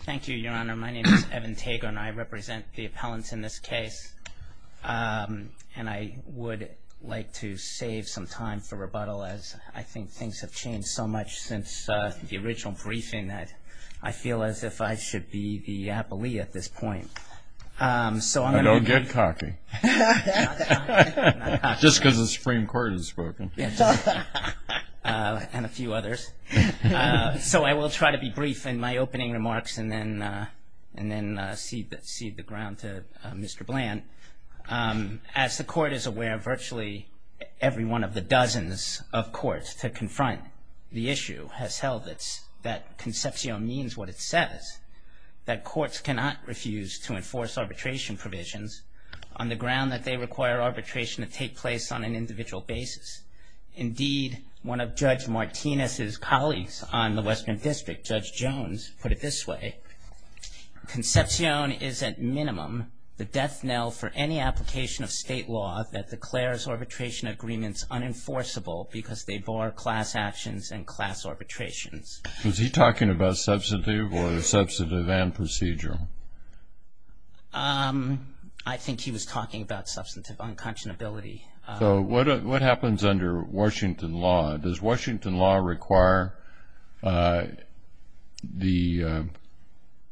Thank you, Your Honor. My name is Evan Tago and I represent the appellants in this case. And I would like to save some time for rebuttal as I think things have changed so much since the original briefing that I feel as if I should be the appellee at this point. Don't get cocky. I'm not cocky. Just because the Supreme Court has spoken. And a few others. So I will try to be brief in my opening remarks and then cede the ground to Mr. Bland. As the Court is aware, virtually every one of the dozens of courts to confront the issue has held that Concepcion means what it says, that courts cannot refuse to enforce arbitration provisions on the ground that they require arbitration to take place on an individual basis. Indeed, one of Judge Martinez's colleagues on the Western District, Judge Jones, put it this way, Concepcion is at minimum the death knell for any application of state law that declares arbitration agreements unenforceable because they bar class actions and class arbitrations. Was he talking about substantive or the substantive and procedural? I think he was talking about substantive unconscionability. So what happens under Washington law? Does Washington law require the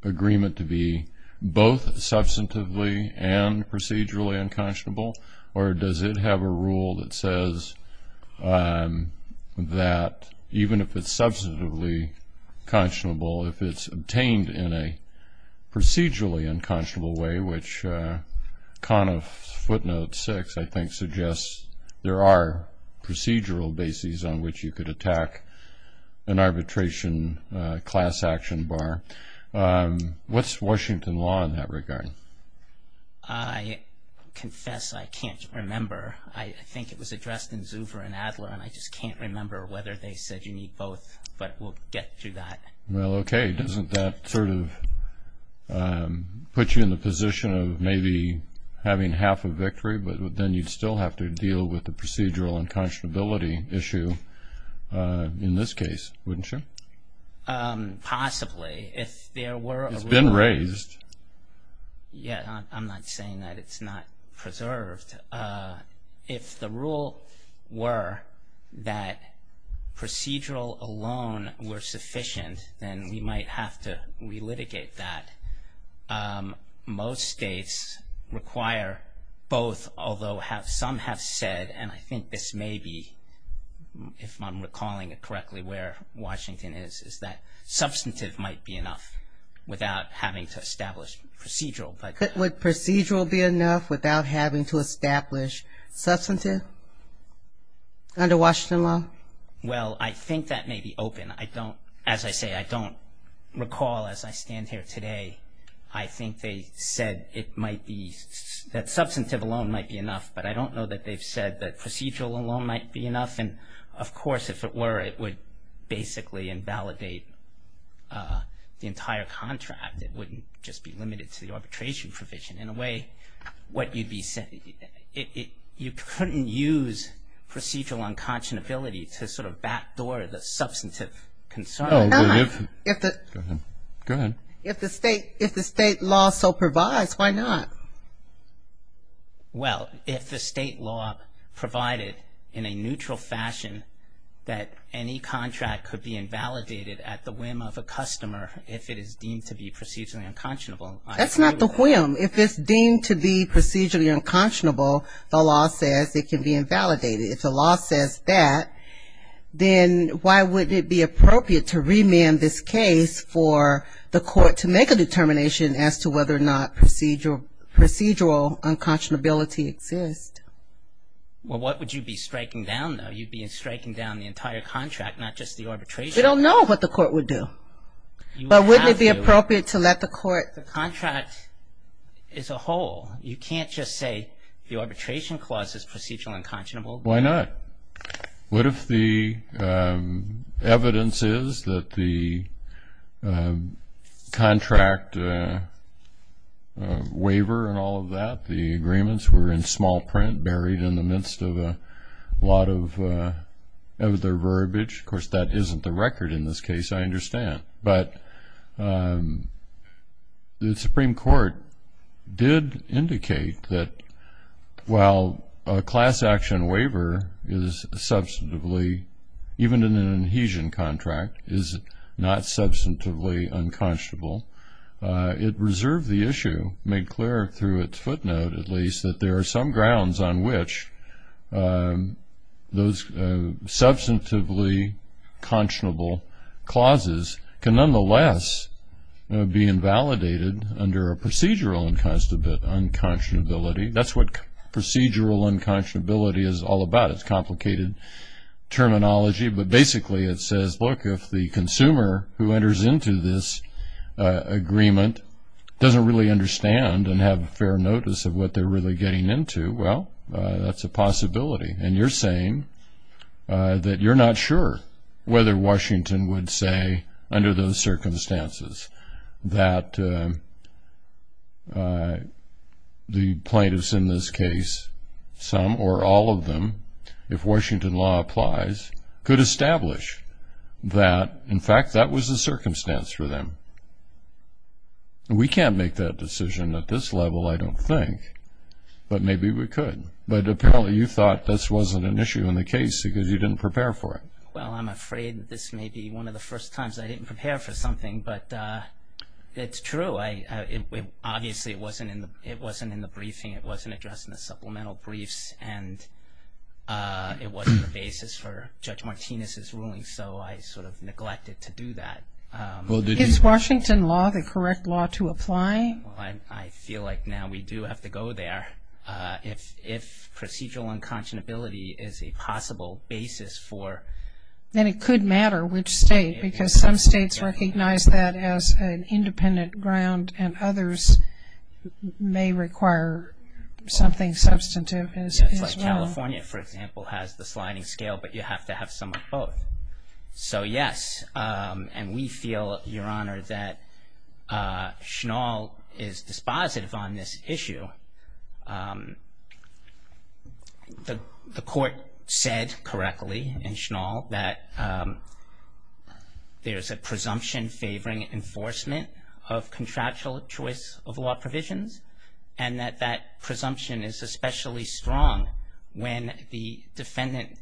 agreement to be both substantively and procedurally unconscionable? Or does it have a rule that says that even if it's substantively conscionable, if it's obtained in a procedurally unconscionable way, which Kahn of footnote 6 I think suggests there are procedural bases on which you could attack an arbitration class action bar. What's Washington law in that regard? I confess I can't remember. I think it was addressed in Zuber and Adler, and I just can't remember whether they said you need both. But we'll get to that. Well, okay. Doesn't that sort of put you in the position of maybe having half a victory, but then you'd still have to deal with the procedural unconscionability issue in this case, wouldn't you? Possibly. It's been raised. Yeah, I'm not saying that it's not preserved. If the rule were that procedural alone were sufficient, then we might have to relitigate that. Most states require both, although some have said, and I think this may be, if I'm recalling it correctly where Washington is, is that substantive might be enough without having to establish procedural. Would procedural be enough without having to establish substantive under Washington law? Well, I think that may be open. As I say, I don't recall as I stand here today, I think they said it might be, that substantive alone might be enough, but I don't know that they've said that procedural alone might be enough. And, of course, if it were, it would basically invalidate the entire contract. It wouldn't just be limited to the arbitration provision. In a way, what you'd be saying, you couldn't use procedural unconscionability to sort of backdoor the substantive concern. If the state law so provides, why not? Well, if the state law provided in a neutral fashion that any contract could be invalidated at the whim of a customer if it is deemed to be procedurally unconscionable. That's not the whim. If it's deemed to be procedurally unconscionable, the law says it can be invalidated. If the law says that, then why wouldn't it be appropriate to remand this case for the court to make a determination as to whether or not procedural unconscionability exists? Well, what would you be striking down, though? You'd be striking down the entire contract, not just the arbitration. We don't know what the court would do. But wouldn't it be appropriate to let the court... The contract is a whole. You can't just say the arbitration clause is procedurally unconscionable. Why not? What if the evidence is that the contract waiver and all of that, the agreements were in small print buried in the midst of a lot of the verbiage? Of course, that isn't the record in this case, I understand. But the Supreme Court did indicate that while a class action waiver is substantively, even in an adhesion contract, is not substantively unconscionable, it reserved the issue, made clear through its footnote, at least, that there are some grounds on which those substantively conscionable clauses can, nonetheless, be invalidated under a procedural unconscionability. That's what procedural unconscionability is all about. It's complicated terminology, but basically it says, look, if the consumer who enters into this agreement doesn't really understand and have fair notice of what they're really getting into, well, that's a possibility. And you're saying that you're not sure whether Washington would say, under those circumstances, that the plaintiffs in this case, some or all of them, if Washington law applies, could establish that, in fact, that was the circumstance for them. We can't make that decision at this level, I don't think. But maybe we could. But apparently you thought this wasn't an issue in the case because you didn't prepare for it. Well, I'm afraid this may be one of the first times I didn't prepare for something. But it's true. Obviously it wasn't in the briefing, it wasn't addressed in the supplemental briefs, and it wasn't the basis for Judge Martinez's ruling, so I sort of neglected to do that. Is Washington law the correct law to apply? I feel like now we do have to go there. If procedural unconscionability is a possible basis for... Then it could matter which state, because some states recognize that as an independent ground and others may require something substantive as well. Yes, like California, for example, has the sliding scale, but you have to have some of both. So yes, and we feel, Your Honor, that Schnall is dispositive on this issue. The court said correctly in Schnall that there's a presumption favoring enforcement of contractual choice of law provisions, and that that presumption is especially strong when the defendant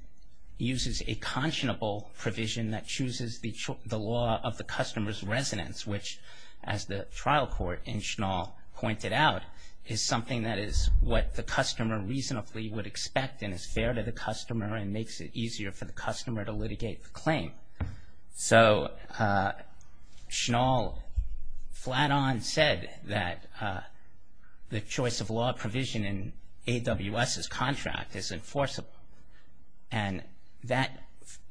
uses a conscionable provision that chooses the law of the customer's residence, which as the trial court in Schnall pointed out, is something that is what the customer reasonably would expect and is fair to the customer and makes it easier for the customer to litigate the claim. So Schnall flat-on said that the choice of law provision in AWS's contract is enforceable, and that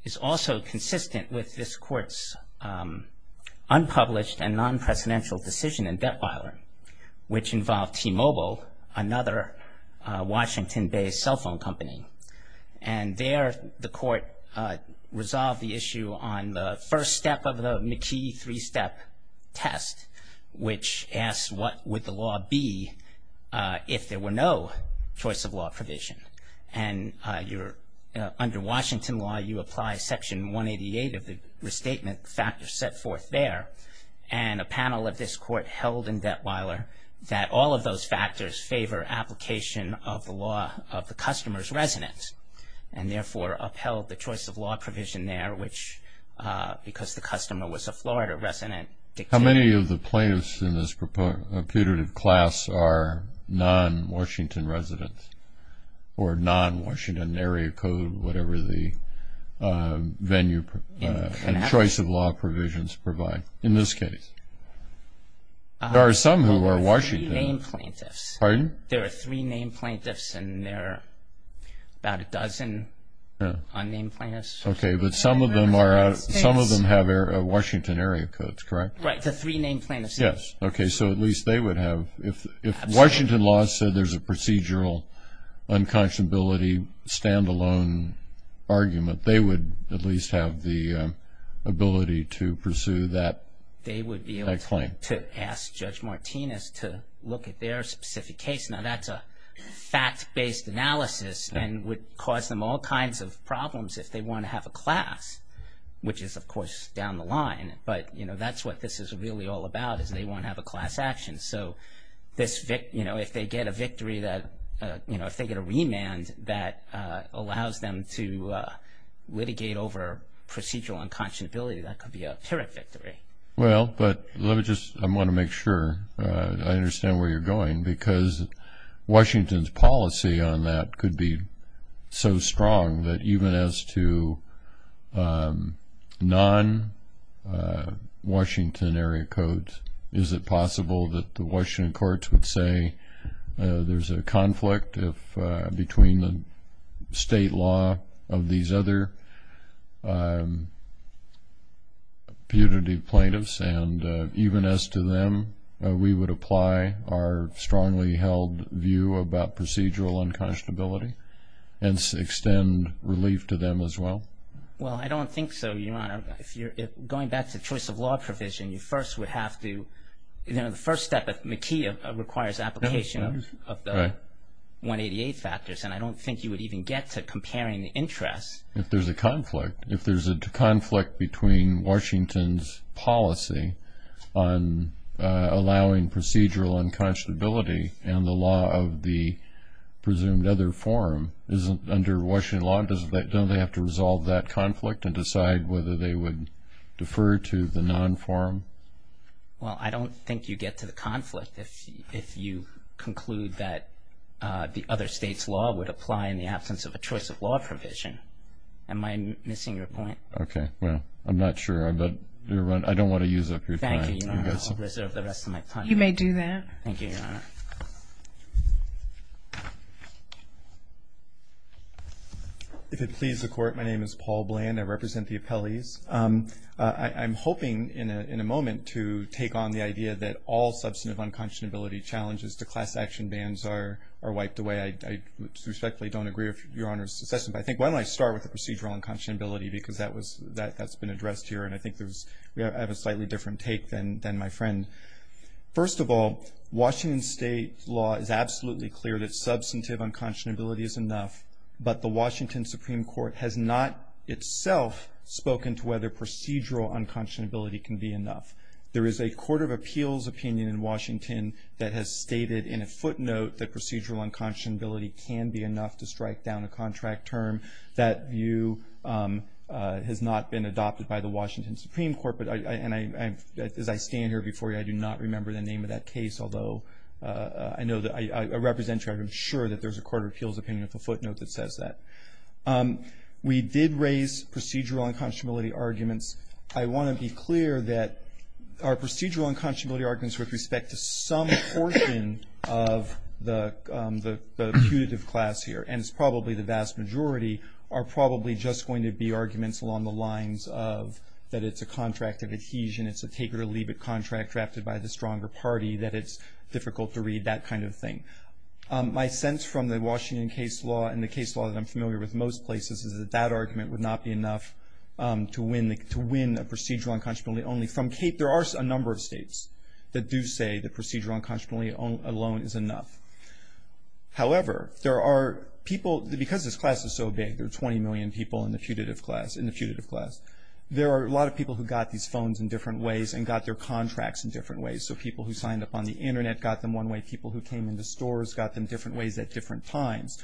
is also consistent with this court's unpublished and non-presidential decision in Detweiler, which involved T-Mobile, another Washington-based cell phone company. And there the court resolved the issue on the first step of the McKee three-step test, which asked what would the law be if there were no choice of law provision. And under Washington law, you apply Section 188 of the restatement factors set forth there, and a panel of this court held in Detweiler that all of those factors favor application of the law of the customer's residence and therefore upheld the choice of law provision there, which because the customer was a Florida resident. How many of the plaintiffs in this putative class are non-Washington residents or non-Washington area code, whatever the venue and choice of law provisions provide in this case? There are some who are Washington. There are three named plaintiffs. Pardon? There are about a dozen unnamed plaintiffs. Okay, but some of them have Washington area codes, correct? Right, the three named plaintiffs. Yes. Okay, so at least they would have, if Washington law said there's a procedural unconscionability standalone argument, they would at least have the ability to pursue that claim. They would be able to ask Judge Martinez to look at their specific case. Now, that's a fact-based analysis and would cause them all kinds of problems if they want to have a class, which is, of course, down the line. But, you know, that's what this is really all about is they want to have a class action. So, you know, if they get a victory that, you know, if they get a remand that allows them to litigate over procedural unconscionability, that could be a pyrrhic victory. Well, but let me just, I want to make sure I understand where you're going, because Washington's policy on that could be so strong that even as to non-Washington area codes, is it possible that the Washington courts would say there's a conflict between the state law of these other punitive plaintiffs and even as to them, we would apply our strongly held view about procedural unconscionability and extend relief to them as well? Well, I don't think so, Your Honor. Going back to choice of law provision, you first would have to, you know, the first step at McKee requires application of the 188 factors, and I don't think you would even get to comparing the interests. If there's a conflict, if there's a conflict between Washington's policy on allowing procedural unconscionability and the law of the presumed other forum, isn't under Washington law, don't they have to resolve that conflict and decide whether they would defer to the non-forum? Well, I don't think you get to the conflict if you conclude that the other state's law would apply in the absence of a choice of law provision. Am I missing your point? Okay. Well, I'm not sure. I don't want to use up your time. Thank you, Your Honor. I'll reserve the rest of my time. You may do that. Thank you, Your Honor. If it pleases the Court, my name is Paul Bland. I represent the appellees. I'm hoping in a moment to take on the idea that all substantive unconscionability challenges to class action bans are wiped away. I respectfully don't agree with Your Honor's assessment, but I think why don't I start with the procedural unconscionability because that's been addressed here, and I think we have a slightly different take than my friend. First of all, Washington state law is absolutely clear that substantive unconscionability is enough, but the Washington Supreme Court has not itself spoken to whether procedural unconscionability can be enough. There is a Court of Appeals opinion in Washington that has stated in a footnote that procedural unconscionability can be enough to strike down a contract term. That view has not been adopted by the Washington Supreme Court, and as I stand here before you, I do not remember the name of that case, although I know that I represent you. I'm sure that there's a Court of Appeals opinion with a footnote that says that. We did raise procedural unconscionability arguments. I want to be clear that our procedural unconscionability arguments with respect to some portion of the putative class here, and it's probably the vast majority, are probably just going to be arguments along the lines of that it's a contract of adhesion, it's a take-it-or-leave-it contract drafted by the stronger party, that it's difficult to read, that kind of thing. My sense from the Washington case law and the case law that I'm familiar with most places is that that argument would not be enough to win a procedural unconscionability. There are a number of states that do say that procedural unconscionability alone is enough. However, because this class is so big, there are 20 million people in the putative class, there are a lot of people who got these phones in different ways and got their contracts in different ways, so people who signed up on the Internet got them one way, people who came into stores got them different ways at different times.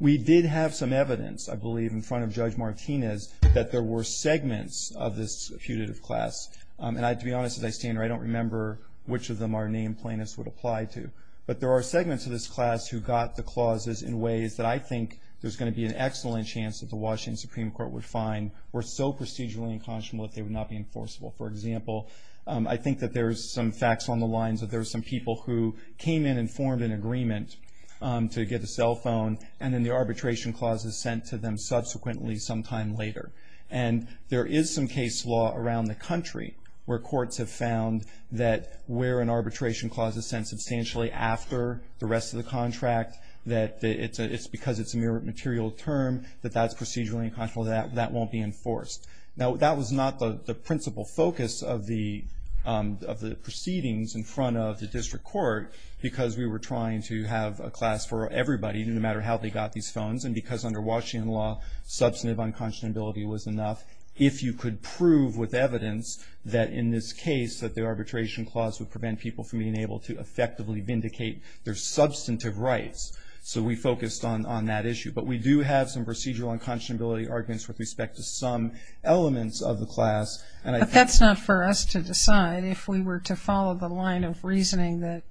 We did have some evidence, I believe, in front of Judge Martinez that there were segments of this putative class, and to be honest, as I stand here, I don't remember which of them our named plaintiffs would apply to, but there are segments of this class who got the clauses in ways that I think there's going to be an excellent chance that the Washington Supreme Court would find were so procedurally unconscionable that they would not be enforceable. For example, I think that there's some facts on the lines that there's some people who came in and formed an agreement to get a cell phone, and then the arbitration clause is sent to them subsequently sometime later. And there is some case law around the country where courts have found that where an arbitration clause is sent substantially after the rest of the contract, that it's because it's a mere material term that that's procedurally unconscionable, that that won't be enforced. Now, that was not the principal focus of the proceedings in front of the district court because we were trying to have a class for everybody, no matter how they got these phones, and because under Washington law, substantive unconscionability was enough. If you could prove with evidence that in this case that the arbitration clause would prevent people from being able to effectively vindicate their substantive rights. So we focused on that issue. But we do have some procedural unconscionability arguments with respect to some elements of the class. But that's not for us to decide. If we were to follow the line of reasoning that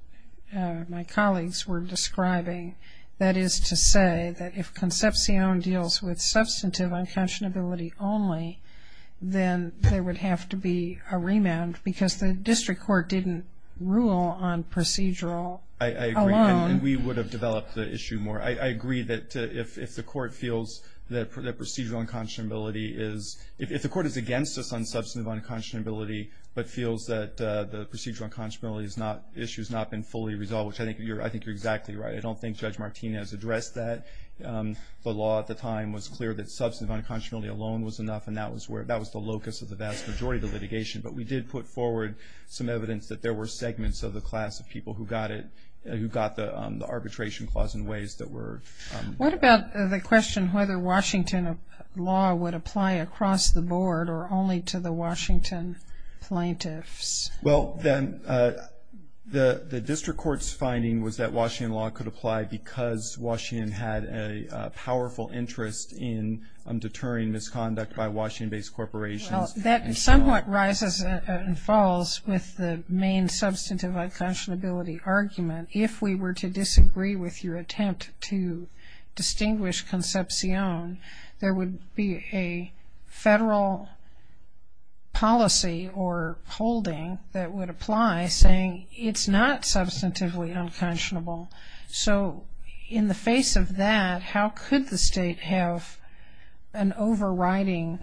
my colleagues were describing, that is to say that if Concepcion deals with substantive unconscionability only, then there would have to be a remand because the district court didn't rule on procedural alone. I agree. And we would have developed the issue more. I agree that if the court feels that procedural unconscionability is – if the court is against us on substantive unconscionability but feels that the procedural unconscionability issue has not been fully resolved, which I think you're exactly right. I don't think Judge Martinez addressed that. I think the law at the time was clear that substantive unconscionability alone was enough, and that was the locus of the vast majority of the litigation. But we did put forward some evidence that there were segments of the class of people who got it – who got the arbitration clause in ways that were – What about the question whether Washington law would apply across the board or only to the Washington plaintiffs? Well, the district court's finding was that Washington law could apply because Washington had a powerful interest in deterring misconduct by Washington-based corporations. Well, that somewhat rises and falls with the main substantive unconscionability argument. If we were to disagree with your attempt to distinguish concepcion, there would be a federal policy or holding that would apply saying it's not substantively unconscionable. So in the face of that, how could the state have an overriding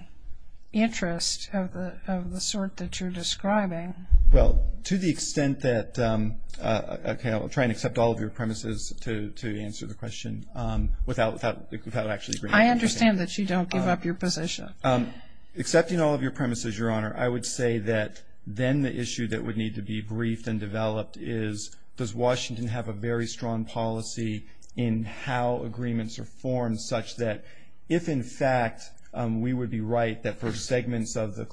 interest of the sort that you're describing? Well, to the extent that – okay, I'll try and accept all of your premises to answer the question without actually agreeing. I understand that you don't give up your position. Accepting all of your premises, Your Honor, I would say that then the issue that would need to be briefed and developed is, does Washington have a very strong policy in how agreements are formed such that if, in fact, we would be right that for segments of the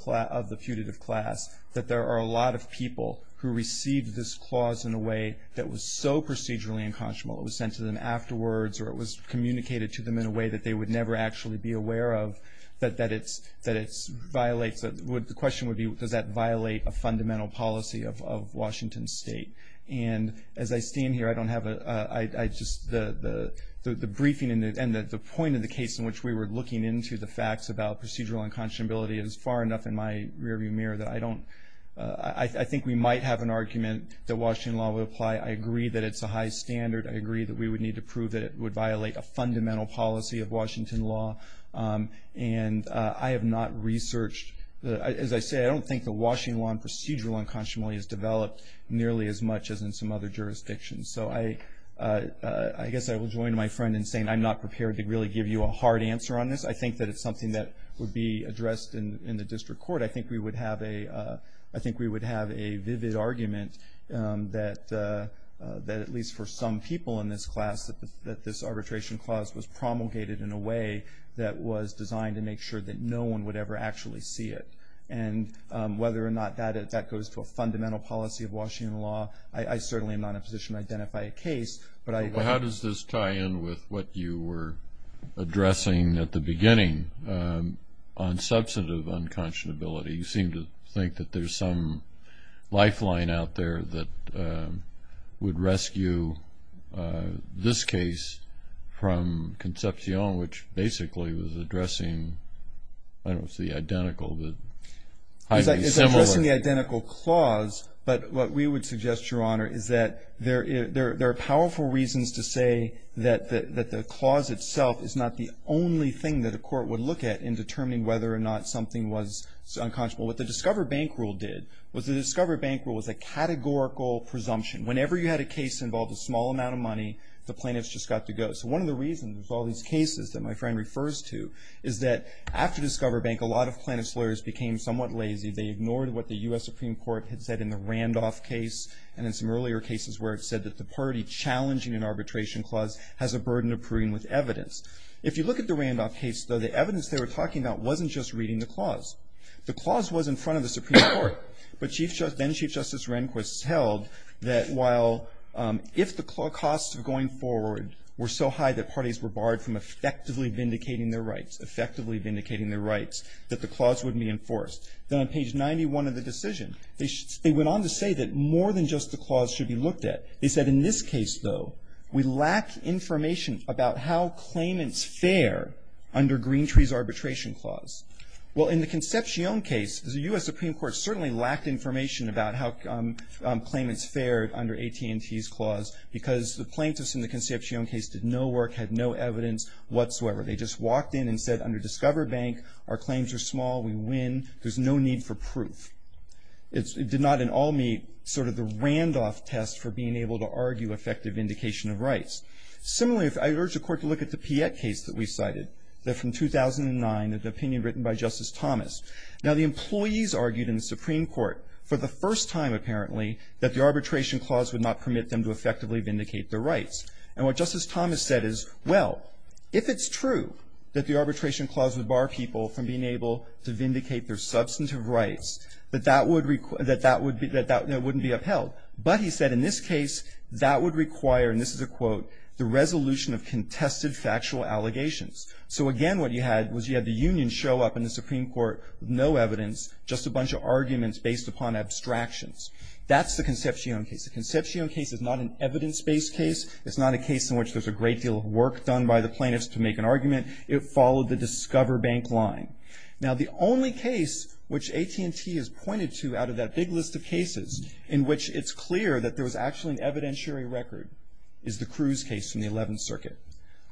putative class, that there are a lot of people who received this clause in a way that was so procedurally unconscionable, it was sent to them afterwards or it was communicated to them in a way that they would never actually be aware of, that it violates – the question would be, does that violate a fundamental policy of Washington State? And as I stand here, I don't have a – I just – the briefing and the point of the case in which we were looking into the facts about procedural unconscionability is far enough in my rearview mirror that I don't – I think we might have an argument that Washington law would apply. I agree that it's a high standard. I agree that we would need to prove that it would violate a fundamental policy of Washington law. And I have not researched – as I say, I don't think the Washington law in procedural unconscionability is developed nearly as much as in some other jurisdictions. So I guess I will join my friend in saying I'm not prepared to really give you a hard answer on this. I think that it's something that would be addressed in the district court. I think we would have a – I think we would have a vivid argument that at least for some people in this class, that this arbitration clause was promulgated in a way that was designed to make sure that no one would ever actually see it. And whether or not that goes to a fundamental policy of Washington law, I certainly am not in a position to identify a case. But I – Well, how does this tie in with what you were addressing at the beginning on substantive unconscionability? You seem to think that there's some lifeline out there that would rescue this case from Concepcion, which basically was addressing – I don't know if it's the identical, but highly similar. It's addressing the identical clause, but what we would suggest, Your Honor, is that there are powerful reasons to say that the clause itself is not the only thing that a court would look at in determining whether or not something was unconscionable. What the Discover Bank Rule did was the Discover Bank Rule was a categorical presumption. Whenever you had a case involved a small amount of money, the plaintiffs just got to go. So one of the reasons with all these cases that my friend refers to is that after Discover Bank, a lot of plaintiffs' lawyers became somewhat lazy. They ignored what the U.S. Supreme Court had said in the Randolph case and in some earlier cases where it said that the party challenging an arbitration clause has a burden of proving with evidence. If you look at the Randolph case, though, the evidence they were talking about wasn't just reading the clause. The clause was in front of the Supreme Court. But then Chief Justice Rehnquist held that while if the costs of going forward were so high that parties were barred from effectively vindicating their rights, effectively vindicating their rights, that the clause wouldn't be enforced. Then on page 91 of the decision, they went on to say that more than just the clause should be looked at. They said in this case, though, we lack information about how claimants fare under Green Tree's arbitration clause. Well, in the Concepcion case, the U.S. Supreme Court certainly lacked information about how claimants fared under AT&T's clause because the plaintiffs in the Concepcion case did no work, had no evidence whatsoever. They just walked in and said under Discover Bank, our claims are small. We win. There's no need for proof. It did not at all meet sort of the Randolph test for being able to argue effective vindication of rights. Similarly, I urge the Court to look at the Piette case that we cited. They're from 2009, an opinion written by Justice Thomas. Now, the employees argued in the Supreme Court for the first time, apparently, that the arbitration clause would not permit them to effectively vindicate their rights. And what Justice Thomas said is, well, if it's true that the arbitration clause would bar people from being able to vindicate their substantive rights, that that would be upheld. But he said in this case, that would require, and this is a quote, the resolution of contested factual allegations. So, again, what you had was you had the union show up in the Supreme Court with no evidence, just a bunch of arguments based upon abstractions. That's the Concepcion case. The Concepcion case is not an evidence-based case. It's not a case in which there's a great deal of work done by the plaintiffs to make an argument. It followed the Discover Bank line. Now, the only case which AT&T has pointed to out of that big list of cases in which it's clear that there was actually an evidentiary record is the Cruz case from the Eleventh Circuit.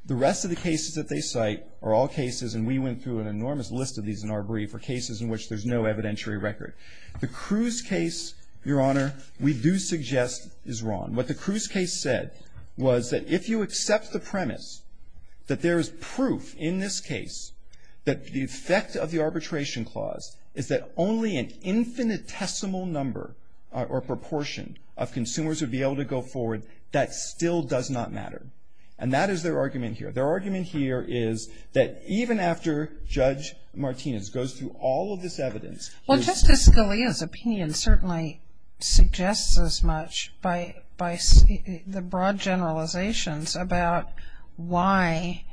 The rest of the cases that they cite are all cases, and we went through an enormous list of these in our brief, are cases in which there's no evidentiary record. The Cruz case, Your Honor, we do suggest is wrong. What the Cruz case said was that if you accept the premise that there is proof in this case that the effect of the arbitration clause is that only an infinitesimal number or proportion of consumers would be able to go forward, that still does not matter. And that is their argument here. Their argument here is that even after Judge Martinez goes through all of this evidence. Well, Justice Scalia's opinion certainly suggests as much by the broad generalizations about why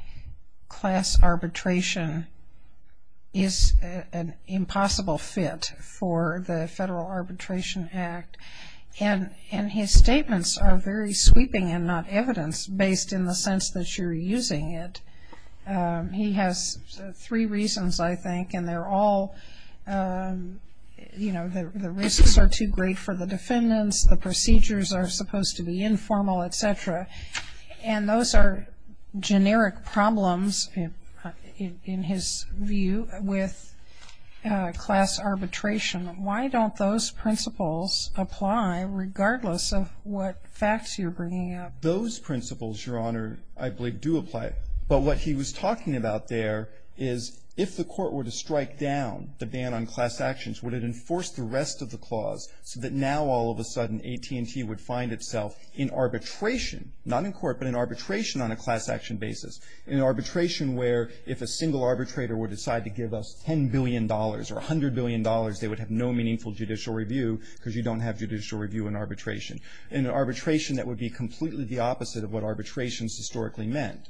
class arbitration is an impossible fit for the Federal Arbitration Act. And his statements are very sweeping and not evidence based in the sense that you're using it. He has three reasons, I think, and they're all, you know, the risks are too great for the defendants. The procedures are supposed to be informal, et cetera. And those are generic problems in his view with class arbitration. Why don't those principles apply regardless of what facts you're bringing up? Those principles, Your Honor, I believe do apply. But what he was talking about there is if the Court were to strike down the ban on class actions, would it enforce the rest of the clause so that now all of a sudden AT&T would find itself in arbitration, not in court, but in arbitration on a class action basis. In arbitration where if a single arbitrator would decide to give us $10 billion or $100 billion, they would have no meaningful judicial review because you don't have judicial review in arbitration. In arbitration that would be completely the opposite of what arbitration has historically meant.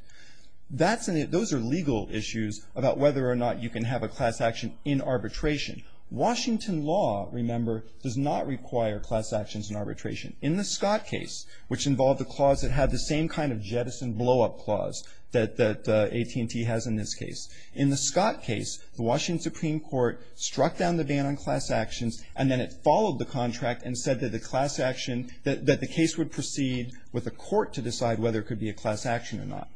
Those are legal issues about whether or not you can have a class action in arbitration. Washington law, remember, does not require class actions in arbitration. In the Scott case, which involved a clause that had the same kind of jettison blow-up clause that AT&T has in this case, in the Scott case, the Washington Supreme Court struck down the ban on class actions and then it followed the contract and said that the class action, that the case would proceed with a court to decide whether it could be a class action or not.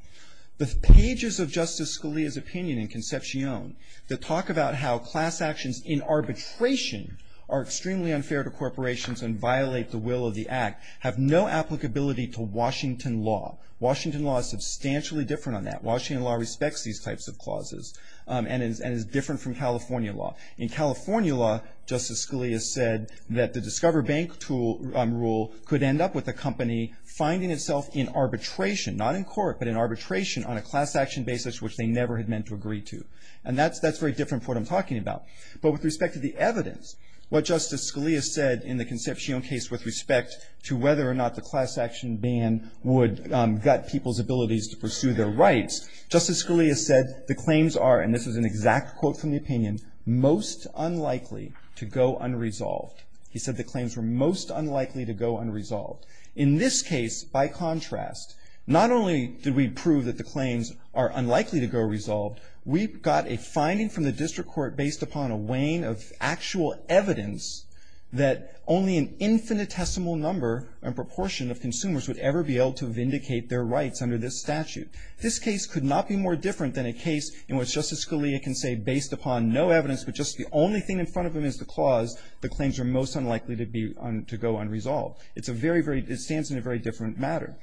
The pages of Justice Scalia's opinion in Concepcion that talk about how class actions in arbitration are extremely unfair to corporations and violate the will of the act have no applicability to Washington law. Washington law is substantially different on that. Washington law respects these types of clauses and is different from California law. In California law, Justice Scalia said that the Discover Bank rule could end up with a company finding itself in arbitration, not in court, but in arbitration on a class action basis which they never had meant to agree to. And that's very different from what I'm talking about. But with respect to the evidence, what Justice Scalia said in the Concepcion case with respect to whether or not the class action ban would gut people's abilities to pursue their rights, Justice Scalia said the claims are, and this is an exact quote from the opinion, most unlikely to go unresolved. He said the claims were most unlikely to go unresolved. In this case, by contrast, not only did we prove that the claims are unlikely to go resolved, we got a finding from the district court based upon a wane of actual evidence that only an infinitesimal number and proportion of consumers would ever be able to vindicate their rights under this statute. This case could not be more different than a case in which Justice Scalia can say based upon no evidence but just the only thing in front of him is the clause, the claims are most unlikely to be, to go unresolved. It's a very, very, it stands in a very different matter.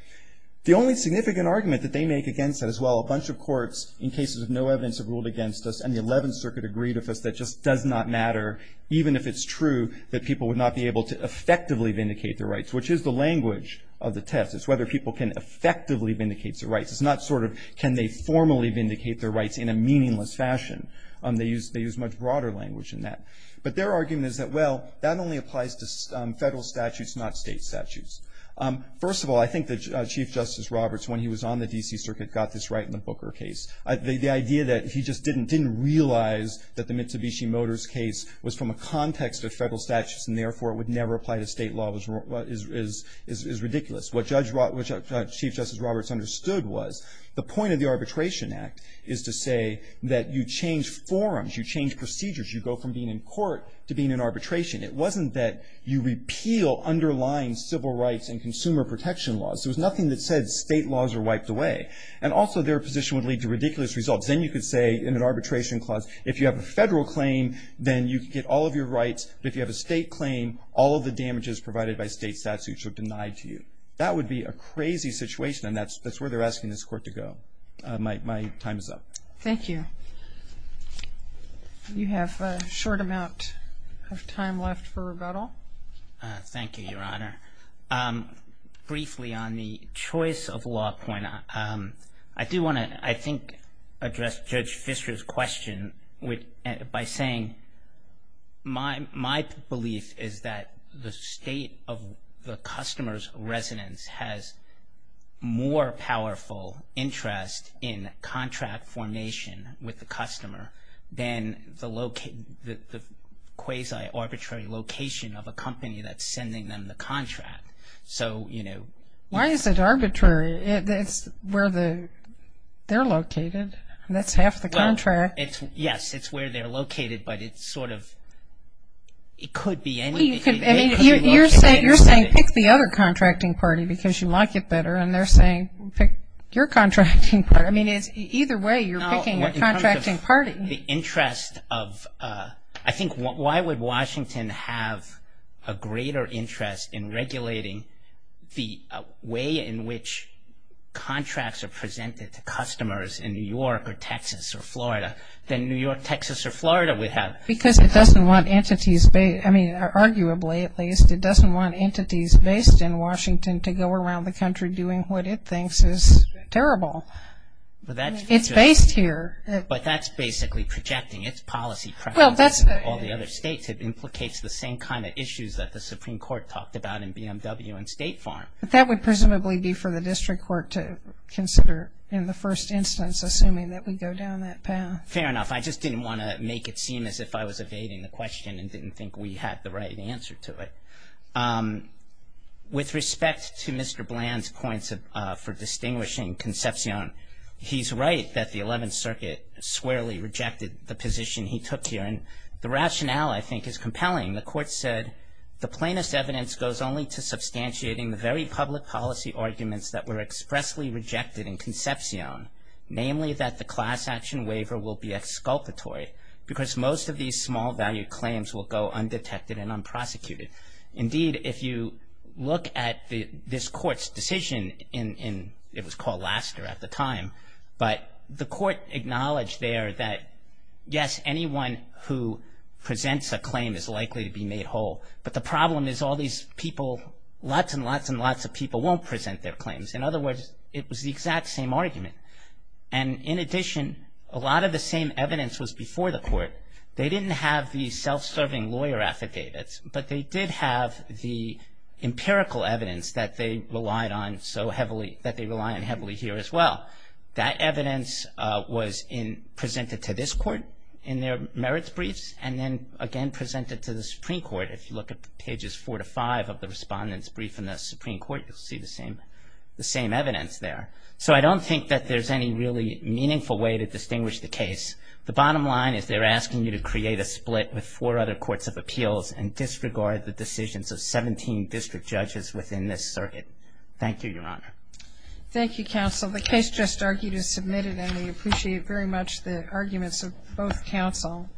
The only significant argument that they make against it as well, a bunch of courts in cases of no evidence have ruled against us and the 11th Circuit agreed with us that just does not matter even if it's true that people would not be able to effectively vindicate their rights, which is the language of the test. It's whether people can effectively vindicate their rights. It's not sort of can they formally vindicate their rights in a meaningless fashion. They use much broader language in that. But their argument is that, well, that only applies to federal statutes, not state statutes. First of all, I think that Chief Justice Roberts, when he was on the D.C. Circuit, got this right in the Booker case. The idea that he just didn't realize that the Mitsubishi Motors case was from a context of federal statutes and therefore it would never apply to state law is ridiculous. What Chief Justice Roberts understood was the point of the Arbitration Act is to say that you change forums, you change procedures, you go from being in court to being in arbitration. It wasn't that you repeal underlying civil rights and consumer protection laws. There was nothing that said state laws are wiped away. And also their position would lead to ridiculous results. Then you could say in an arbitration clause, if you have a federal claim, then you could get all of your rights, but if you have a state claim, all of the damages provided by state statutes are denied to you. That would be a crazy situation, and that's where they're asking this court to go. My time is up. Thank you. You have a short amount of time left for rebuttal. Thank you, Your Honor. Briefly on the choice of law point, I do want to, I think, address Judge Fischer's question by saying my belief is that the state of the customer's residence has more powerful interest in contract formation with the customer than the quasi-arbitrary location of a company that's sending them the contract. Why is it arbitrary? It's where they're located. That's half the contract. Yes, it's where they're located, but it's sort of, it could be any. You're saying pick the other contracting party because you like it better, and they're saying pick your contracting party. I mean, either way, you're picking your contracting party. The interest of, I think, why would Washington have a greater interest in regulating the way in which contracts are presented to customers in New York or Texas or Florida than New York, Texas, or Florida would have? Because it doesn't want entities, I mean, arguably at least, it doesn't want entities based in Washington to go around the country doing what it thinks is terrible. It's based here. But that's basically projecting its policy preferences to all the other states. It implicates the same kind of issues that the Supreme Court talked about in BMW and State Farm. But that would presumably be for the district court to consider in the first instance, assuming that we go down that path. Fair enough. I just didn't want to make it seem as if I was evading the question and didn't think we had the right answer to it. With respect to Mr. Bland's points for distinguishing Concepcion, he's right that the 11th Circuit squarely rejected the position he took here. And the rationale, I think, is compelling. The court said, the plainest evidence goes only to substantiating the very public policy arguments that were expressly rejected in Concepcion, namely that the class action waiver will be exculpatory because most of these small value claims will go undetected and unprosecuted. Indeed, if you look at this court's decision in, it was called Laster at the time, but the court acknowledged there that, yes, anyone who presents a claim is likely to be made whole. But the problem is all these people, lots and lots and lots of people won't present their claims. In other words, it was the exact same argument. And in addition, a lot of the same evidence was before the court. They didn't have the self-serving lawyer affidavits, but they did have the empirical evidence that they relied on so heavily, that they rely on heavily here as well. That evidence was presented to this court in their merits briefs and then again presented to the Supreme Court. If you look at pages four to five of the respondent's brief in the Supreme Court, you'll see the same evidence there. So I don't think that there's any really meaningful way to distinguish the case. The bottom line is they're asking you to create a split with four other courts of appeals and disregard the decisions of 17 district judges within this circuit. Thank you, Your Honor. Thank you, counsel. The case just argued is submitted and we appreciate very much the arguments of both counsel.